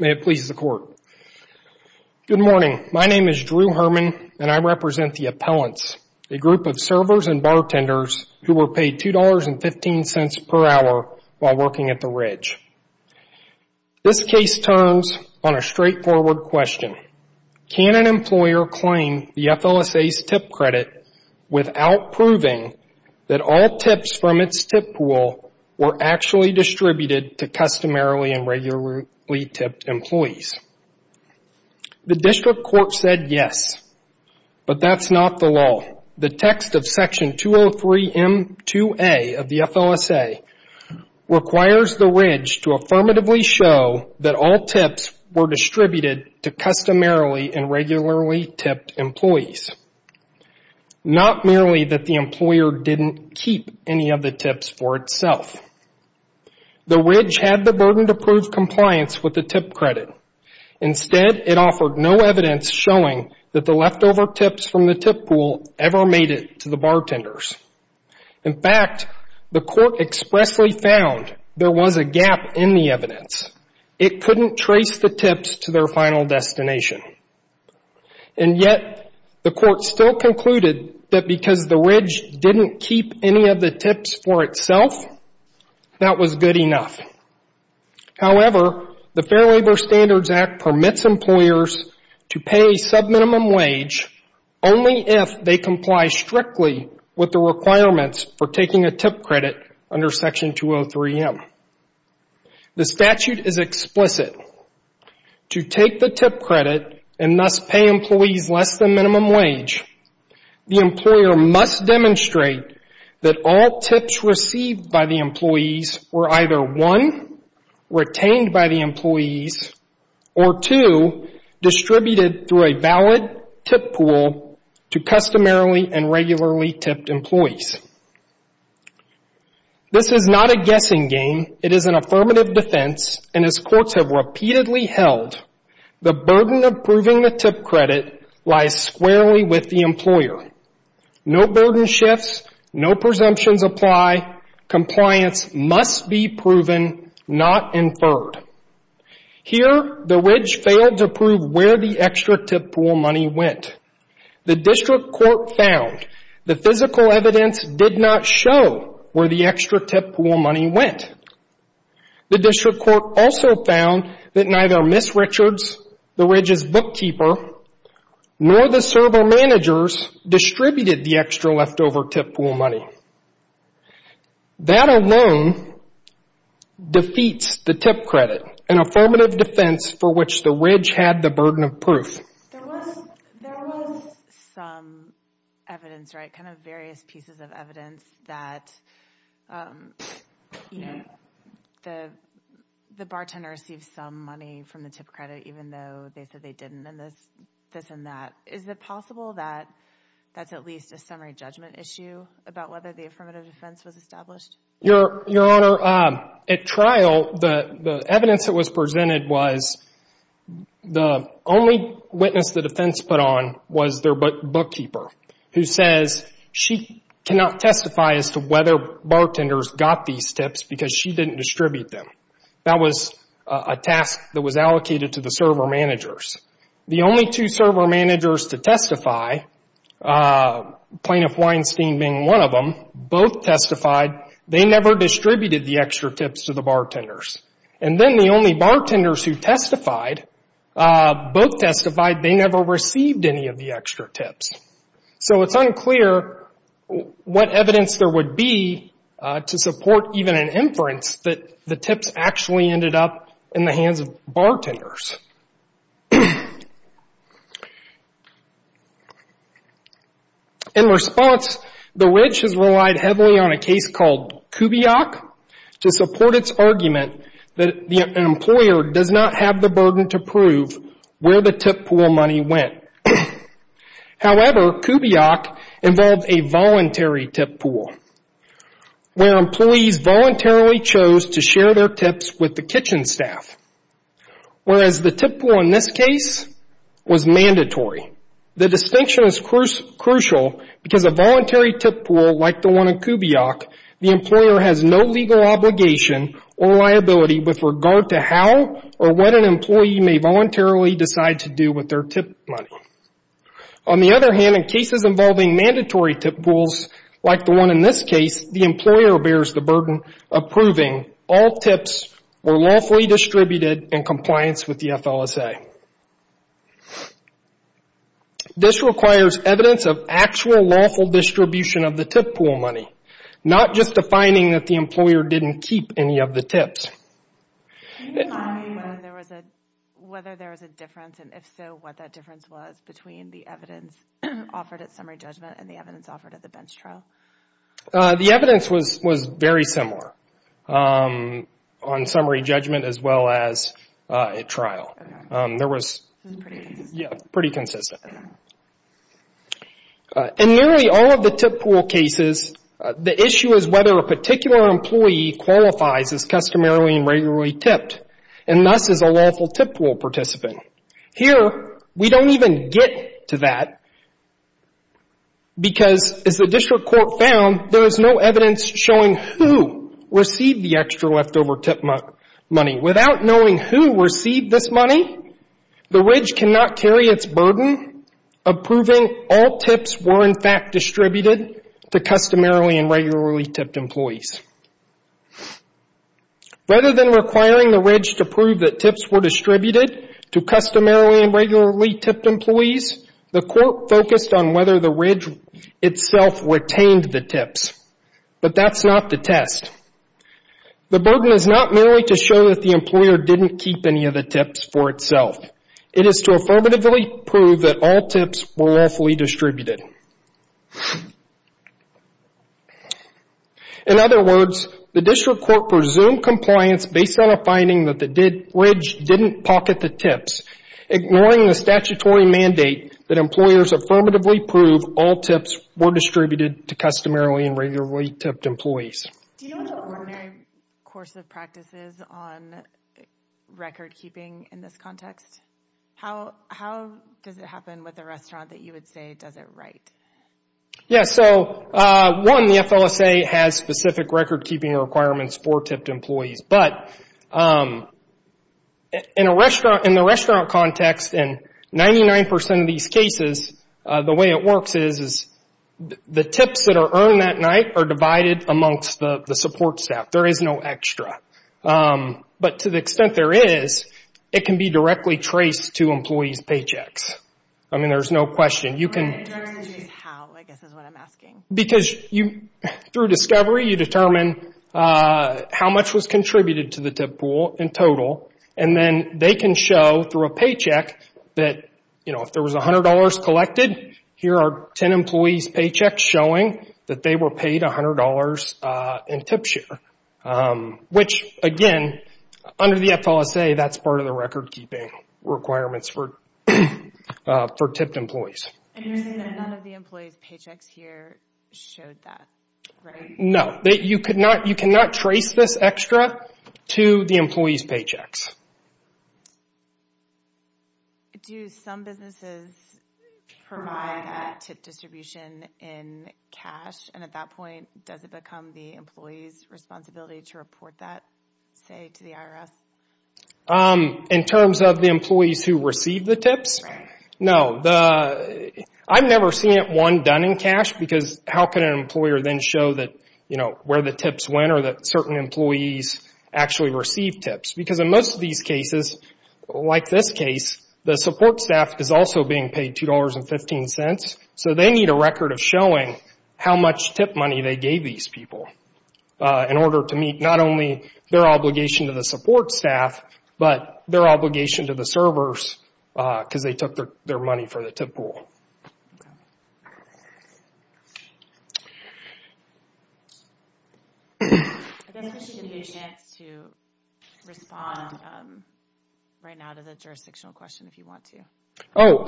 May it please the Court, good morning. My name is Drew Herman and I represent the Appellants, a group of servers and bartenders who were paid $2.15 per hour while working at the Ridge. This case turns on a straightforward question. Can an employer claim the FLSA's tip credit without proving that all tips from its tip pool were actually distributed to customarily and regularly tipped employees? The District Court said yes, but that's not the law. The text of Section 203M2A of the FLSA requires the Ridge to affirmatively show that all tips were distributed to customarily and regularly tipped employees. Not merely that the employer didn't keep any of the tips for itself. The Ridge had the burden to prove compliance with the tip credit. Instead, it offered no evidence showing that the leftover tips from the tip pool ever made it to the bartenders. In fact, the Court expressly found there was a gap in the evidence. It couldn't trace the tips to their final destination. And yet, the Court still concluded that because the Ridge didn't keep any of the tips for itself, that was good enough. However, the Fair Labor Standards Act permits employers to pay a subminimum wage only if they comply strictly with the requirements for taking a tip credit under Section 203M. The statute is explicit. To take the tip credit and thus pay employees less than minimum wage, the employer must demonstrate that all tips received by the employees were either, one, retained by the employees, or two, distributed through a valid tip pool to customarily and regularly tipped employees. This is not a guessing game. It is an affirmative defense, and as courts have repeatedly held, the burden of proving the tip credit lies squarely with the employer. No burden shifts, no presumptions apply, compliance must be proven, not inferred. Here, the Ridge failed to prove where the extra tip pool money went. The District Court found the physical evidence did not show where the extra tip pool money went. The District Court also found that neither Ms. Richards, the Ridge's bookkeeper, nor the server managers distributed the extra leftover tip pool money. That alone defeats the tip credit, an affirmative defense for which the Ridge had the burden of proof. There was some evidence, right, kind of various pieces of evidence that, you know, the bartender received some money from the tip credit even though they said they didn't, and this and that. Is it possible that that's at least a summary judgment issue about whether the affirmative defense was established? Your Honor, at trial, the evidence that was presented was the only witness the defense put on was their bookkeeper, who says she cannot testify as to whether bartenders got these tips because she didn't distribute them. That was a task that was allocated to the server managers. The only two server managers to testify, Plaintiff Weinstein being one of them, both testified they never distributed the extra tips to the bartenders. And then the only bartenders who testified, both testified they never received any of the extra tips. So it's unclear what evidence there would be to support even an inference that the tips actually ended up in the hands of bartenders. In response, the Ridge has relied heavily on a case called Kubiak to support its argument that the employer does not have the burden to prove where the tip pool money went. However, Kubiak involved a voluntary tip pool where employees voluntarily chose to share their tips with the kitchen staff, whereas the tip pool in this case was mandatory. The distinction is crucial because a voluntary tip pool like the one in Kubiak, the employer has no legal obligation or liability with regard to how or what an employee may voluntarily decide to do with their tip money. On the other hand, in cases involving mandatory tip pools like the one in this case, the employer bears the burden of proving all tips were lawfully distributed in compliance with the FLSA. This requires evidence of actual lawful distribution of the tip pool money, not just a finding that the employer didn't keep any of the tips. Can you remind me whether there was a difference, and if so, what that difference was between the evidence offered at summary judgment and the evidence offered at the bench trial? The evidence was very similar on summary judgment as well as at trial. There was pretty consistent. In nearly all of the tip pool cases, the issue is whether a particular employee qualifies as customarily and regularly tipped, and thus is a lawful tip pool participant. Here, we don't even get to that because as the district court found, there is no evidence showing who received the extra leftover tip money. Without knowing who received this money, the Ridge cannot carry its burden of proving all tips were in fact distributed to customarily and regularly tipped employees. Rather than requiring the Ridge to prove that tips were distributed to customarily and regularly tipped employees, the court focused on whether the Ridge itself retained the tips, but that's not the test. The burden is not merely to show that the employer didn't keep any of the tips for itself. It is to affirmatively prove that all tips were lawfully distributed. In other words, the district court presumed compliance based on a finding that the Ridge didn't pocket the tips, ignoring the statutory mandate that employers affirmatively prove all tips were distributed to customarily and regularly tipped employees. Do you know the ordinary course of practices on record keeping in this context? How does it happen with a restaurant that you would say does it right? One, the FLSA has specific record keeping requirements for tipped employees, but in the restaurant context, in 99% of these cases, the way it works is the tips that are earned that night are divided amongst the support staff. There is no extra. To the extent there is, it can be directly traced to employees' paychecks. I mean, there's no question. You can... I don't understand how. I guess that's what I'm asking. Because through discovery, you determine how much was contributed to the tip pool in total, and then they can show through a paycheck that if there was $100 collected, here are 10 employees' paychecks showing that they were paid $100 in tip share, which again, under the FLSA, that's part of the record keeping requirements for tipped employees. And you're saying that none of the employees' paychecks here showed that, right? No. You cannot trace this extra to the employees' paychecks. Do some businesses provide that tip distribution in cash? And at that point, does it become the employee's responsibility to report that, say, to the IRS? In terms of the employees who receive the tips? Right. No. I've never seen it, one, done in cash, because how can an employer then show that, you know, where the tips went or that certain employees actually received tips? Because in most of these cases, like this case, the support staff is also being paid $2.15, so they need a record of showing how much tip money they gave these people in order to meet not only their obligation to the support staff, but their obligation to the servers, because they took their money for the tip pool. Okay. I guess we should give you a chance to respond right now to the jurisdictional question if you want to. Oh,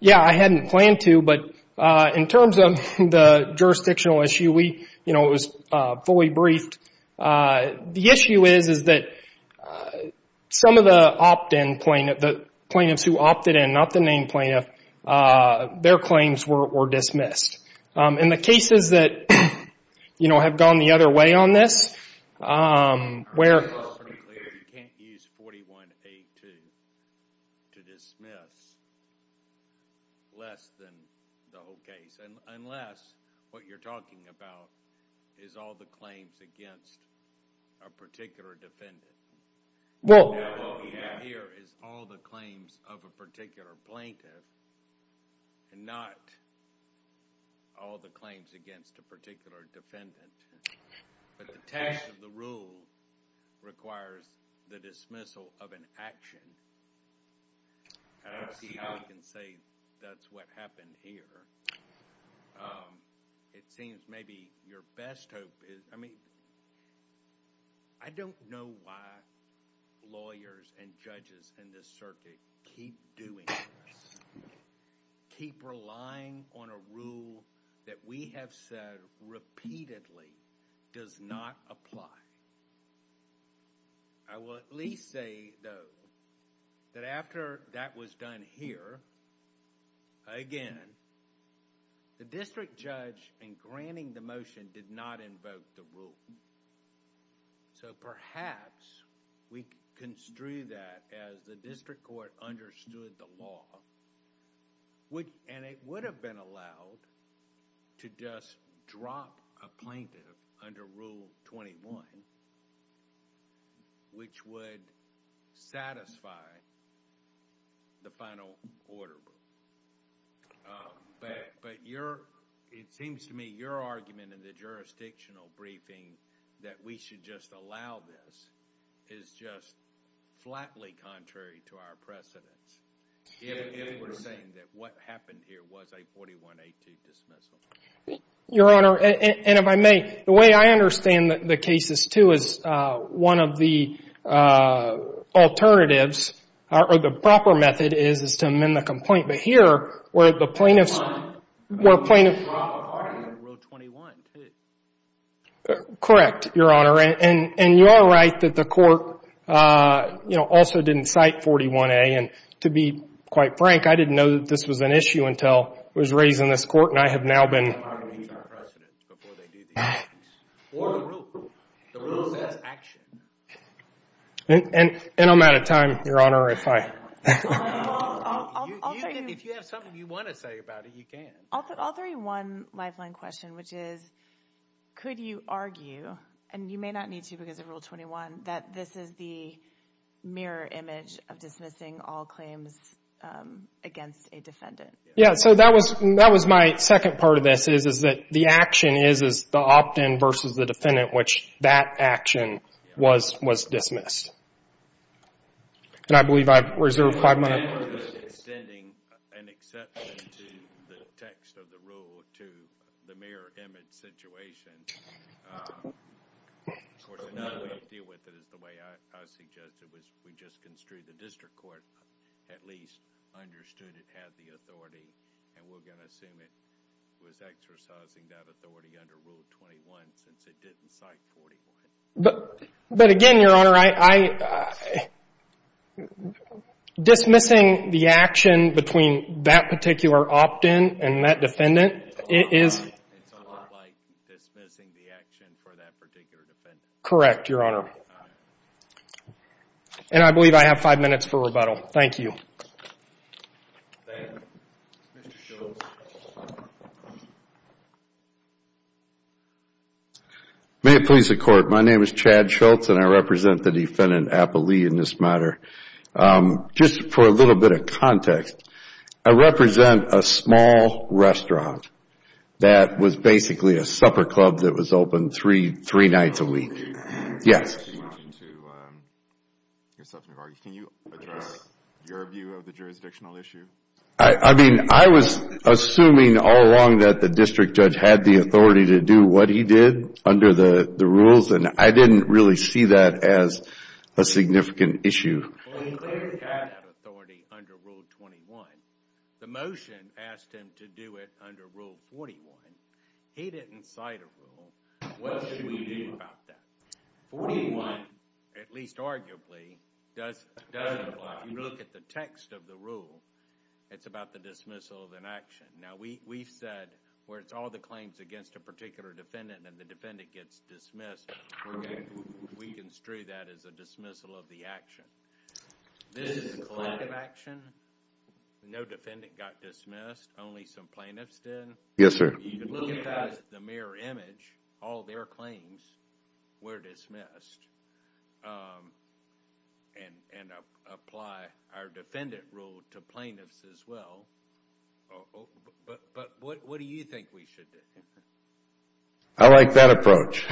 yeah, I hadn't planned to, but in terms of the jurisdictional issue, you know, it was fully briefed. The issue is that some of the plaintiffs who opted in, not the named plaintiff, their claims were dismissed. In the cases that, you know, have gone the other way on this, where... I heard it pretty clearly. You can't use 41A2 to dismiss less than the whole case, unless what you're talking about is all the claims against a particular defendant. What we have here is all the claims of a particular plaintiff and not all the claims against a particular defendant. But the test of the rule requires the dismissal of an action. I don't see how we can say that's what happened here. It seems maybe your best hope is... I mean, I don't know why lawyers and judges in this circuit keep doing this, keep relying on a rule that we have said repeatedly does not apply. I will at least say, though, that after that was done here, again, the district judge in granting the motion did not invoke the rule. So perhaps we construe that as the district court understood the law, and it would have been allowed to just drop a plaintiff under Rule 21, which would satisfy the final order. But it seems to me your argument in the jurisdictional briefing that we should just allow this is just flatly contrary to our precedence. If we're saying that what happened here was a 41A2 dismissal. Your Honor, and if I may, the way I understand the cases, too, is one of the alternatives, or the proper method is, is to amend the complaint. But here, where the plaintiff's... It's not a proper argument in Rule 21, too. Correct, Your Honor. And you are right that the court also didn't cite 41A and, to be quite frank, I didn't know that this was an issue until I was raised in this court, and I have now been... ...precedence before they do these things. Or the rule. The rule says action. And I'm out of time, Your Honor, if I... If you have something you want to say about it, you can. I'll throw you one lifeline question, which is, could you argue, and you may not need to because of Rule 21, that this is the mirror image of dismissing all claims against a defendant? Yeah, so that was my second part of this, is that the action is the opt-in versus the defendant, which that action was dismissed. And I believe I've reserved five minutes. ...extending an exception to the text of the rule to the mirror image situation. Of course, another way to deal with it is the way I suggested, which we just construed the district court at least understood it had the authority, and we're going to assume it was exercising that authority under Rule 21 since it didn't cite 41A. But again, Your Honor, I... Dismissing the action between that particular opt-in and that defendant is... It's a lot like dismissing the action for that particular defendant. Correct, Your Honor. And I believe I have five minutes for rebuttal. Thank you. Thank you. Mr. Schultz. May it please the Court, my name is Chad Schultz, and I represent the defendant, Apple Lee, in this matter. Just for a little bit of context, I represent a small restaurant that was basically a supper club that was open three nights a week. You mentioned to yourself in your argument, can you address your view of the jurisdictional issue? I mean, I was assuming all along that the district judge had the authority to do what he did under the rules, and I didn't really see that as a significant issue. Well, he clearly had that authority under Rule 21. The motion asked him to do it under Rule 41. He didn't cite a rule. What should we do about that? 41, at least arguably, doesn't apply. If you look at the text of the rule, it's about the dismissal of an action. Now, we've said where it's all the claims against a particular defendant and the defendant gets dismissed, we construe that as a dismissal of the action. This is a collective action. No defendant got dismissed, only some plaintiffs did. Yes, sir. If you look at the mirror image, all their claims were dismissed. And apply our defendant rule to plaintiffs as well. But what do you think we should do? I like that approach.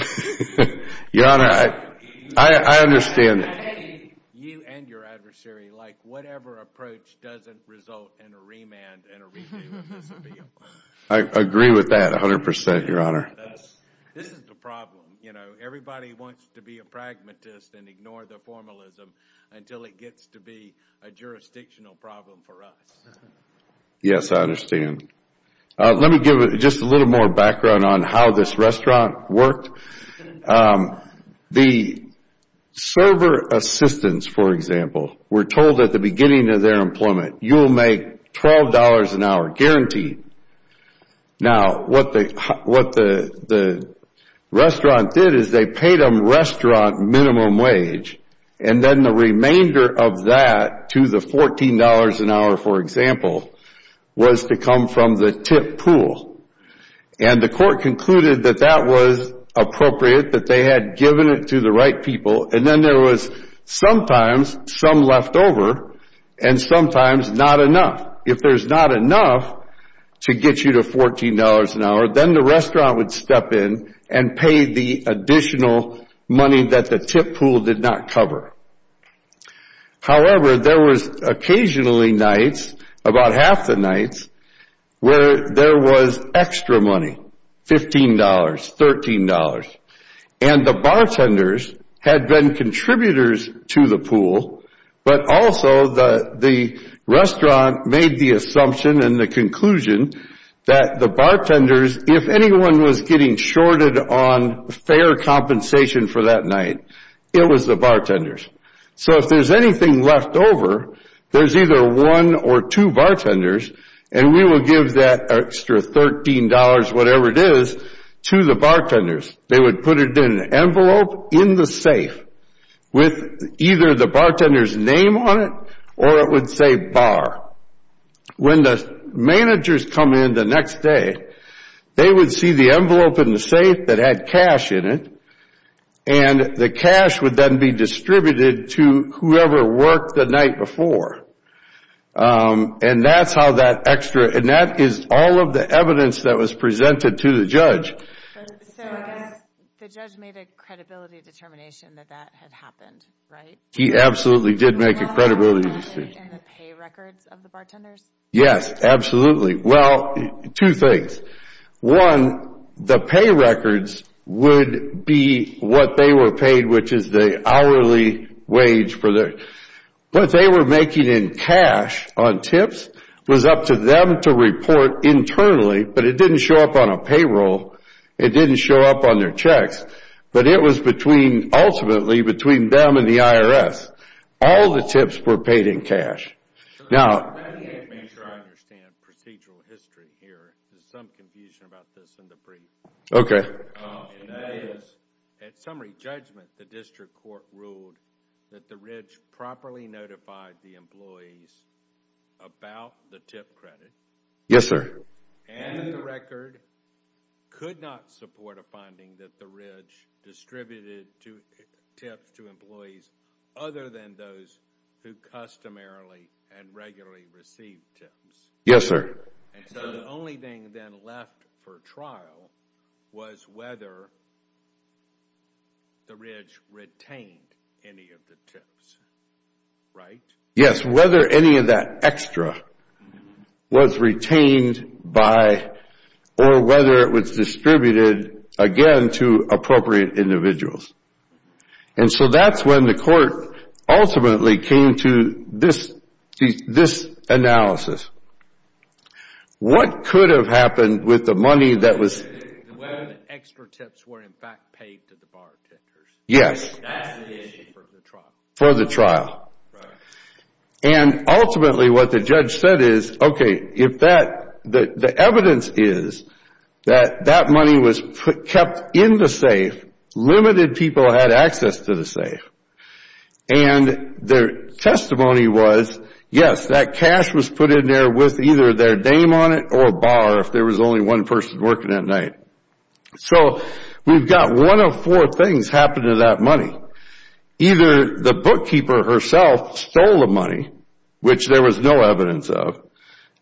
Your Honor, I understand that. You and your adversary, like whatever approach doesn't result in a remand and a repayment, this would be a problem. I agree with that 100%, Your Honor. This is the problem. Everybody wants to be a pragmatist and ignore the formalism until it gets to be a jurisdictional problem for us. Yes, I understand. Let me give just a little more background on how this restaurant worked. The server assistants, for example, were told at the beginning of their employment you will make $12 an hour, guaranteed. Now, what the restaurant did is they paid them restaurant minimum wage and then the remainder of that to the $14 an hour, for example, was to come from the tip pool. And the court concluded that that was appropriate, that they had given it to the right people. And then there was sometimes some leftover and sometimes not enough. If there's not enough to get you to $14 an hour, then the restaurant would step in and pay the additional money that the tip pool did not cover. However, there was occasionally nights, about half the nights, where there was extra money, $15, $13. And the bartenders had been contributors to the pool, but also the restaurant made the assumption and the conclusion that the bartenders, if anyone was getting shorted on fair compensation for that night, it was the bartenders. So if there's anything left over, there's either one or two bartenders and we will give that extra $13, whatever it is, to the bartenders. They would put it in an envelope in the safe with either the bartender's name on it or it would say bar. When the managers come in the next day, they would see the envelope in the safe that had cash in it and the cash would then be distributed to whoever worked the night before. And that's how that extra, and that is all of the evidence that was presented to the judge. So I guess the judge made a credibility determination that that had happened, right? He absolutely did make a credibility determination. And the pay records of the bartenders? Yes, absolutely. Well, two things. One, the pay records would be what they were paid, which is the hourly wage. What they were making in cash on tips was up to them to report internally, but it didn't show up on a payroll. It didn't show up on their checks, but it was ultimately between them and the IRS. All the tips were paid in cash. Let me make sure I understand procedural history here. There's some confusion about this in the brief. Okay. And that is, at summary judgment, the district court ruled that the Ridge properly notified the employees about the tip credit. Yes, sir. And the record could not support a finding that the Ridge distributed tips to employees other than those who customarily and regularly received tips. Yes, sir. And so the only thing then left for trial was whether the Ridge retained any of the tips. Right? Yes, whether any of that extra was retained by or whether it was distributed again to appropriate individuals. And so that's when the court ultimately came to this analysis. What could have happened with the money that was... The extra tips were in fact paid to the bartenders. Yes. That's the issue for the trial. For the trial. Right. And ultimately what the judge said is, okay, the evidence is that that money was kept in the safe. Limited people had access to the safe. And their testimony was, yes, that cash was put in there with either their name on it or a bar if there was only one person working at night. So we've got one of four things happened to that money. Either the bookkeeper herself stole the money, which there was no evidence of.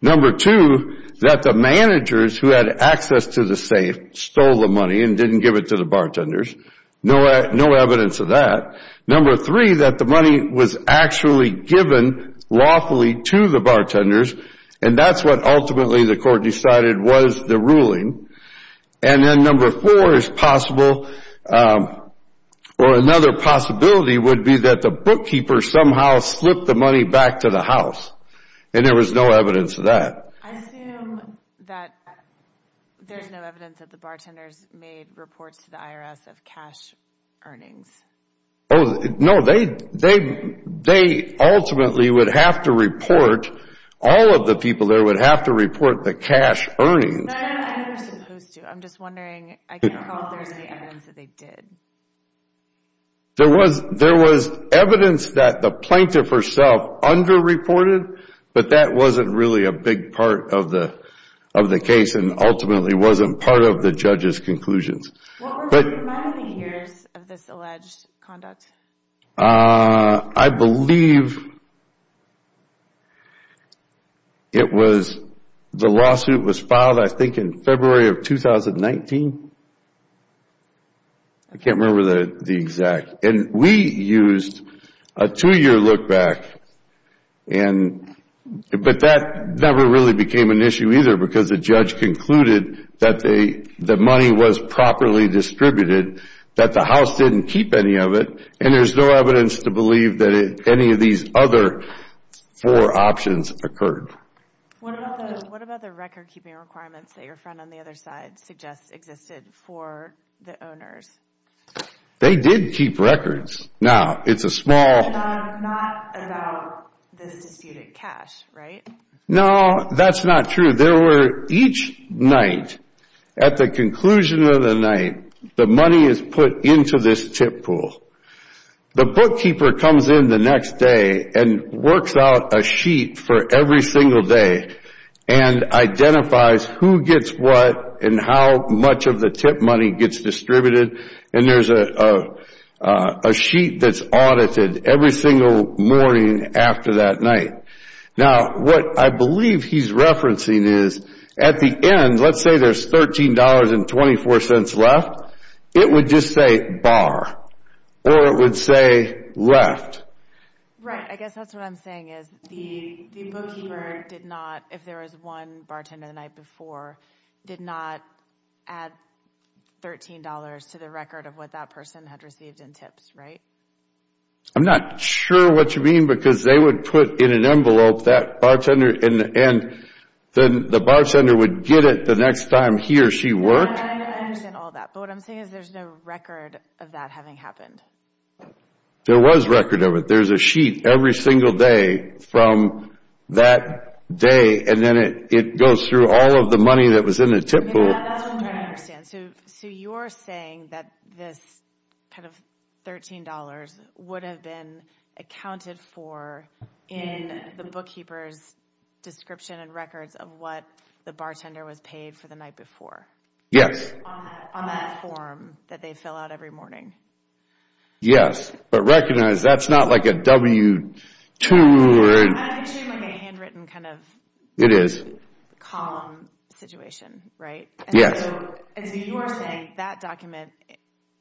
Number two, that the managers who had access to the safe stole the money and didn't give it to the bartenders. No evidence of that. Number three, that the money was actually given lawfully to the bartenders. And that's what ultimately the court decided was the ruling. And then number four is possible or another possibility would be that the bookkeeper somehow slipped the money back to the house. And there was no evidence of that. I assume that there's no evidence that the bartenders made reports to the IRS of cash earnings. No, they ultimately would have to report all of the people there would have to report the cash earnings. No, I don't think they were supposed to. I'm just wondering if there's any evidence that they did. There was evidence that the plaintiff herself under-reported, but that wasn't really a big part of the case and ultimately wasn't part of the judge's conclusions. What were the remaining years of this alleged conduct? I believe it was, the lawsuit was filed I think in February of 2019. I can't remember the exact. And we used a two-year look back. But that never really became an issue either because the judge concluded that the money was properly distributed, that the house didn't keep any of it, and there's no evidence to believe that any of these other four options occurred. What about the record-keeping requirements that your friend on the other side suggests existed for the owners? They did keep records. Now, it's a small... Not about this disputed cash, right? No, that's not true. There were, each night, at the conclusion of the night, the money is put into this tip pool. The bookkeeper comes in the next day and works out a sheet for every single day and identifies who gets what and how much of the tip money gets distributed and there's a sheet that's audited every single morning after that night. Now, what I believe he's referencing is at the end, let's say there's $13.24 left, it would just say bar or it would say left. Right. I guess that's what I'm saying is the bookkeeper did not, if there was one bartender the night before, did not add $13 to the record of what that person had received in tips, right? I'm not sure what you mean because they would put in an envelope that bartender and then the bartender would get it the next time he or she worked. I understand all that but what I'm saying is there's no record of that having happened. There was record of it. There's a sheet every single day from that day and then it goes through all of the money that was in the tip pool. That's what I'm trying to understand. So you're saying that this kind of $13 would have been accounted for in the bookkeeper's description and records of what the bartender was paid for the night before? Yes. On that form that they fill out every morning? Yes. But recognize that's not like a W2 or I'm assuming a handwritten kind of It is. W2 column situation, right? Yes. And so you are saying that document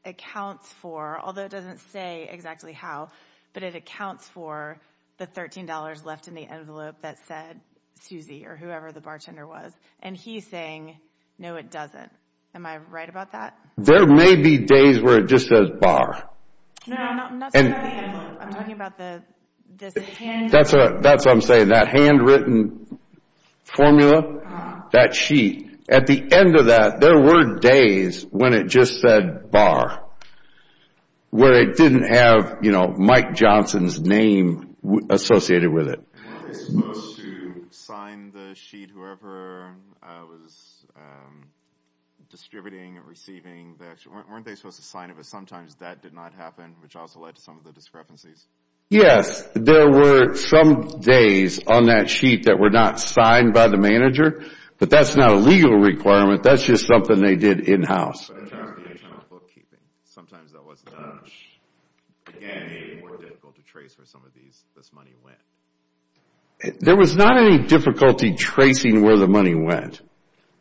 accounts for although it doesn't say exactly how but it accounts for the $13 left in the envelope that said Susie or whoever the bartender was and he's saying no it doesn't. Am I right about that? There may be days where it just says bar. No, I'm not talking about the envelope. I'm talking about this handwritten That's what I'm saying that handwritten formula that sheet at the end of that there were days when it just said bar. Where it didn't have you know Mike Johnson's name associated with it. Weren't they supposed to sign the sheet whoever was distributing receiving weren't they supposed to sign but sometimes that did not happen which also led to some of the discrepancies? Yes. There were some days on that sheet that were not signed by the but that's not a legal requirement that's just something they did in house. In terms of internal bookkeeping sometimes that was not again more difficult to trace where some of this money went. There was not any difficulty tracing where the money went.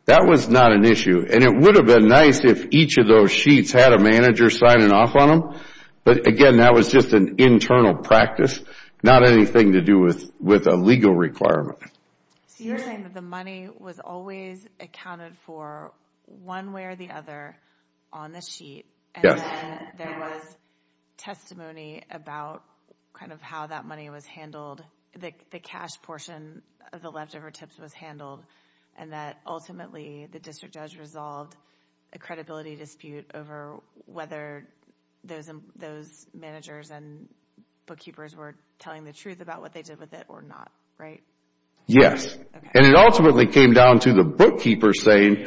That was not an issue and it would have been nice if each of those sheets had a manager signing off on them but again that was just an internal practice not anything to do with a legal requirement. So you're saying that the money was always accounted for one way or the other on the sheet and then there was testimony about kind of how that money was the cash portion of the leftover tips was handled and that ultimately the district judge resolved a credibility dispute over whether those managers and bookkeepers were telling the truth about what they did with it or not right? and it ultimately came down to the bookkeeper saying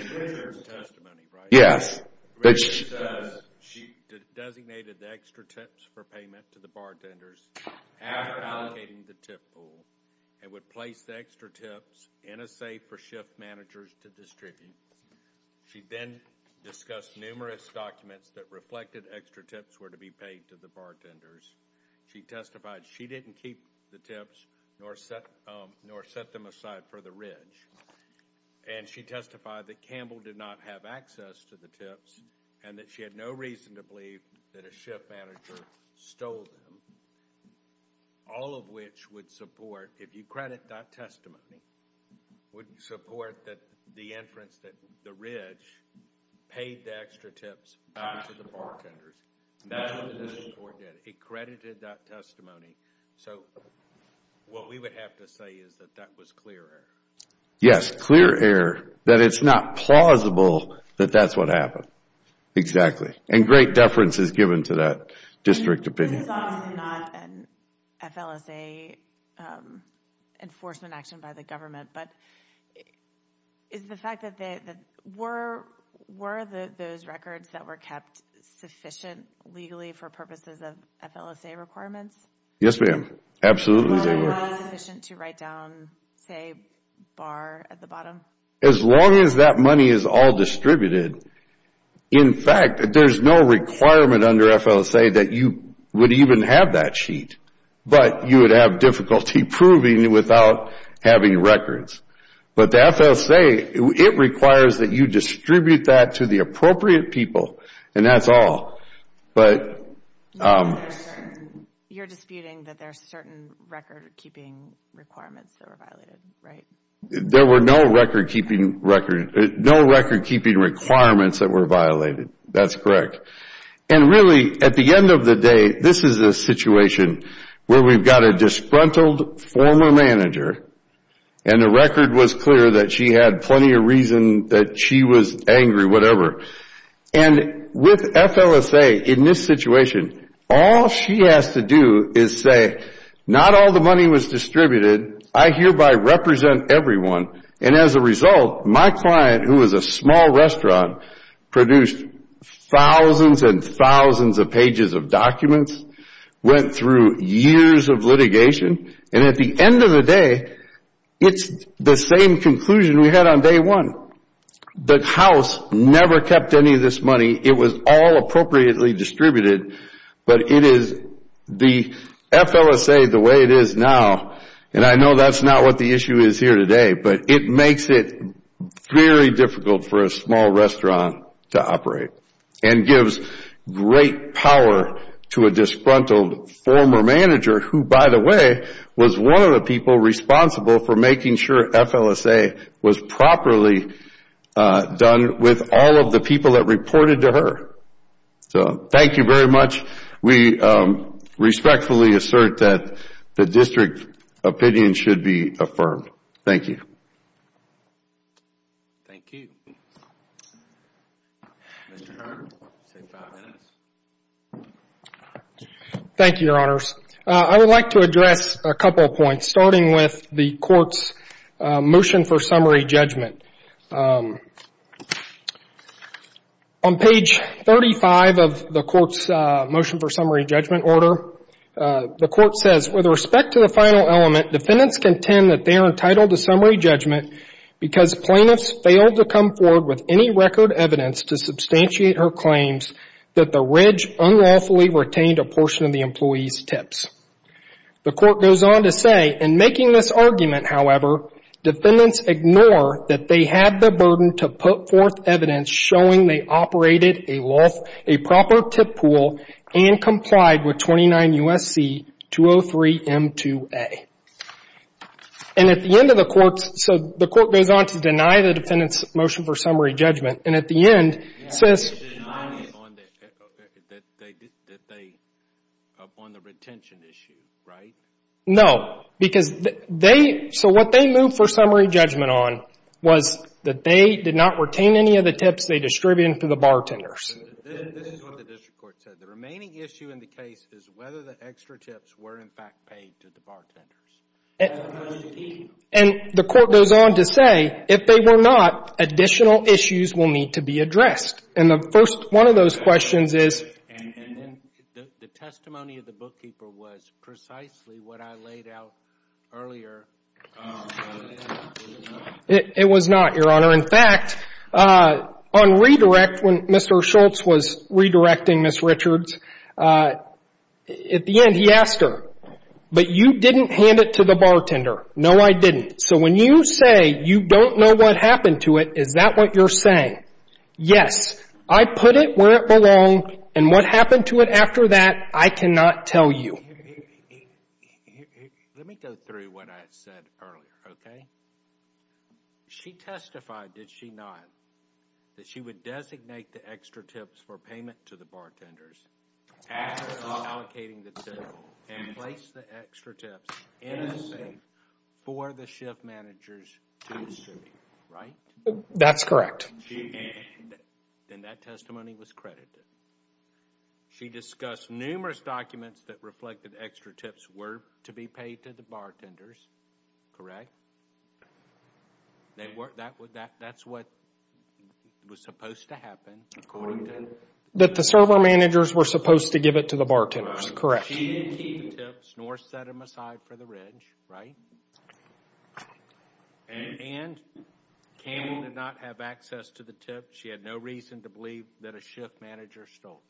yes which she does she designated the extra tips for payment to the bartenders after allocating the tip pool and would place the extra tips in a safe for shift managers to distribute she then discussed numerous documents that reflected extra tips were to be paid to the bartenders she testified she didn't keep the tips nor set them aside for the and she testified that Campbell did not have access to the tips and that she had no reason to believe that a shift manager stole them all of which would support if you credit that testimony would support that the inference that the ridge paid the extra tips to the bartenders it credited that testimony so what we would have to say is that that was clear yes clear air that it's not plausible that that's what happened exactly and great deference is given to that district opinion this is obviously not an FLSA um enforcement action by the government but is the fact that they that were were the those records that were kept sufficient legally for purposes of FLSA requirements yes ma'am absolutely sufficient to write down say bar at the bottom as long as that money is all distributed in fact there's no requirement under FLSA that you would even have that sheet but you would have difficulty proving it without having records but the FLSA it requires that you distribute that to the appropriate people and that's all but um you're disputing that there's certain record keeping requirements that were right there were no record keeping record no record keeping requirements that were violated that's correct and really at the end of the day this is a situation where we've got a disgruntled former manager and the record was clear that she had plenty of reason that she was angry whatever and with FLSA in this situation all she has to do is say not all the money was distributed I hereby represent everyone and as a my client who was a small restaurant produced thousands and thousands of pages of documents went through years of and at the end of the day it's the same conclusion we had on day one the house never kept any of this money it was all appropriately distributed but it is the FLSA the way it is now and I know that's not what the issue is here today but it makes it very difficult for a small restaurant to operate and gives great power to a disgruntled former manager who by the way was one of the people responsible for making sure FLSA was properly done with all of the people that reported to her so thank you very much we respectfully assert that the opinion should be affirmed thank you thank you your honors I would like to address a couple points starting with the court's motion for summary judgment on page thirty five of the court's motion for summary judgment order the court says with respect to the final element defendants contend that they are entitled to summary judgment because plaintiffs failed to come forward with any record evidence to substantiate her claims that the unlawfully retained a portion of the employees evidence tips the court goes on to say in making this argument however defendants ignore that they have the to put forth evidence showing they operated a proper tip pool and complied with twenty nine U.S.C. 203 M2A and at the end of the court so the court goes on to deny the defendant's motion for summary judgment and at the end says that they upon the retention issue right no because they so what they moved for summary judgment on was that they did not retain any of the tips they distributed to the bartenders and the court goes on to say if they were not additional issues will need to be addressed and the first one of questions is the testimony of the bookkeeper was precisely what I laid out earlier it was not your honor in fact on redirect when Mr. Schultz was redirecting Ms. Richards at the end he asked her but you didn't hand it to the bartender no I didn't so when you say you don't know what happened to it is that what you're saying yes I put it where it and what happened to it after that I cannot tell you let me go through what I said earlier okay she testified did she not that she would designate the extra tips for payment to the bartenders after allocating the tip and place the extra tips in a safe for the shift managers to distribute right that's correct she then that testimony was credited she discussed numerous documents that reflected extra tips were to be paid to the bartenders correct they weren't that would that's what was supposed to happen according to that the server managers were supposed to give it to the bartenders correct she didn't keep the tips nor set them aside for the ridge right and Campbell did not have access to the tip she had no reason to believe that a shift manager stole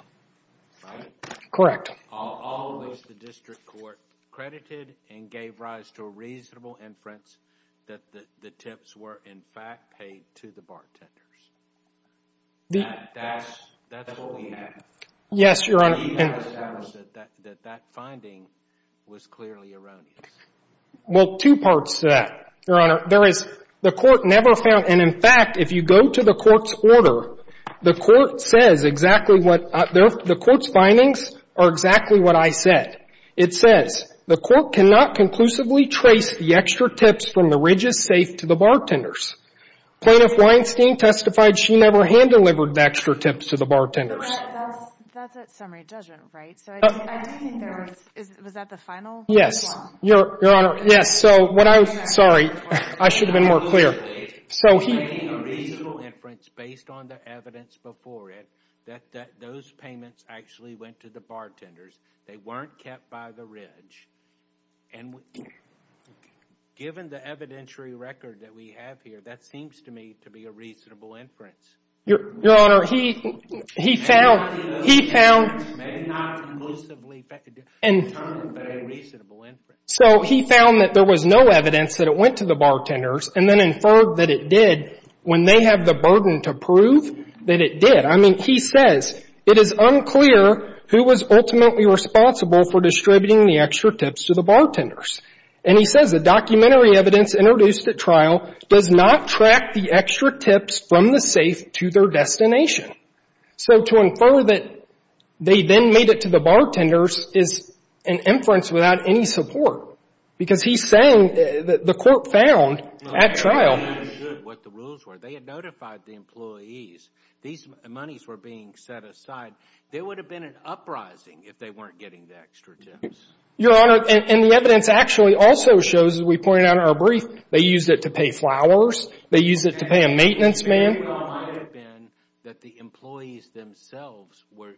right correct all of which the district court credited and gave rise to a reasonable inference that the tips were in fact paid to the bartenders that's what we have yes your honor that that finding was clearly erroneous well two parts to that your honor there is the court never found and in fact if you go to the court's order the court says exactly what the court's are exactly what I said it says the court cannot conclusively trace the extra tips from the ridges safe to the bartenders plaintiff Weinstein testified she never hand delivered extra tips to the bartenders that's a summary judgment right was that the final yes your honor yes so what I sorry I should have been more clear so he based on the evidence before it that those payments actually went to the bartenders they weren't kept by reasonable inference your honor he he found he found may not conclusively and reasonable so he found that there was no evidence that it went to the bartenders and then inferred that it did when they have the burden to prove that it did I mean he says it is unclear who was ultimately responsible for distributing the extra tips to the bartenders and he says the documentary evidence introduced at trial does not track the extra tips from the safe to their destination so to infer that they then made it to the bartenders is an inference without any support because he's saying that the court found at trial what the rules were they had notified the employees these monies were being set aside there would have been an uprising if they weren't getting the extra tips your honor and the evidence actually also shows as we pointed out in our brief they used it to pay flowers they used it to pay a maintenance man that the employees themselves were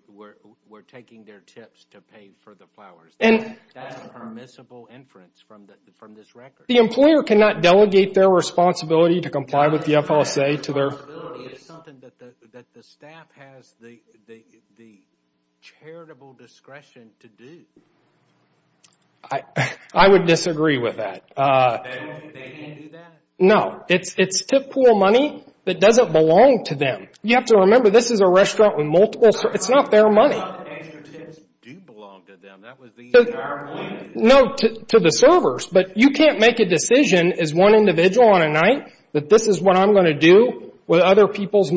taking their tips to pay for the flowers that's a permissible inference from this record the employer cannot delegate their responsibility to comply with the FLSA to their responsibility it's something that the staff has the it's tip pool money that doesn't belong to them you have to remember this is a restaurant with it's not their money to the servers but you can't make a decision as one individual on a night that this is what I'm going to do with other people's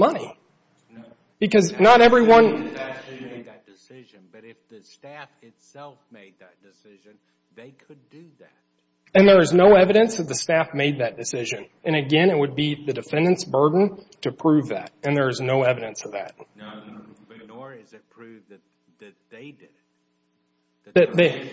because not everyone can make that decision but if the staff itself made that decision they could do that and there is no evidence that the staff made that decision and again it would be the defendant's to prove that and there is no evidence of that no but nor is it defendant's that staff decision and again to prove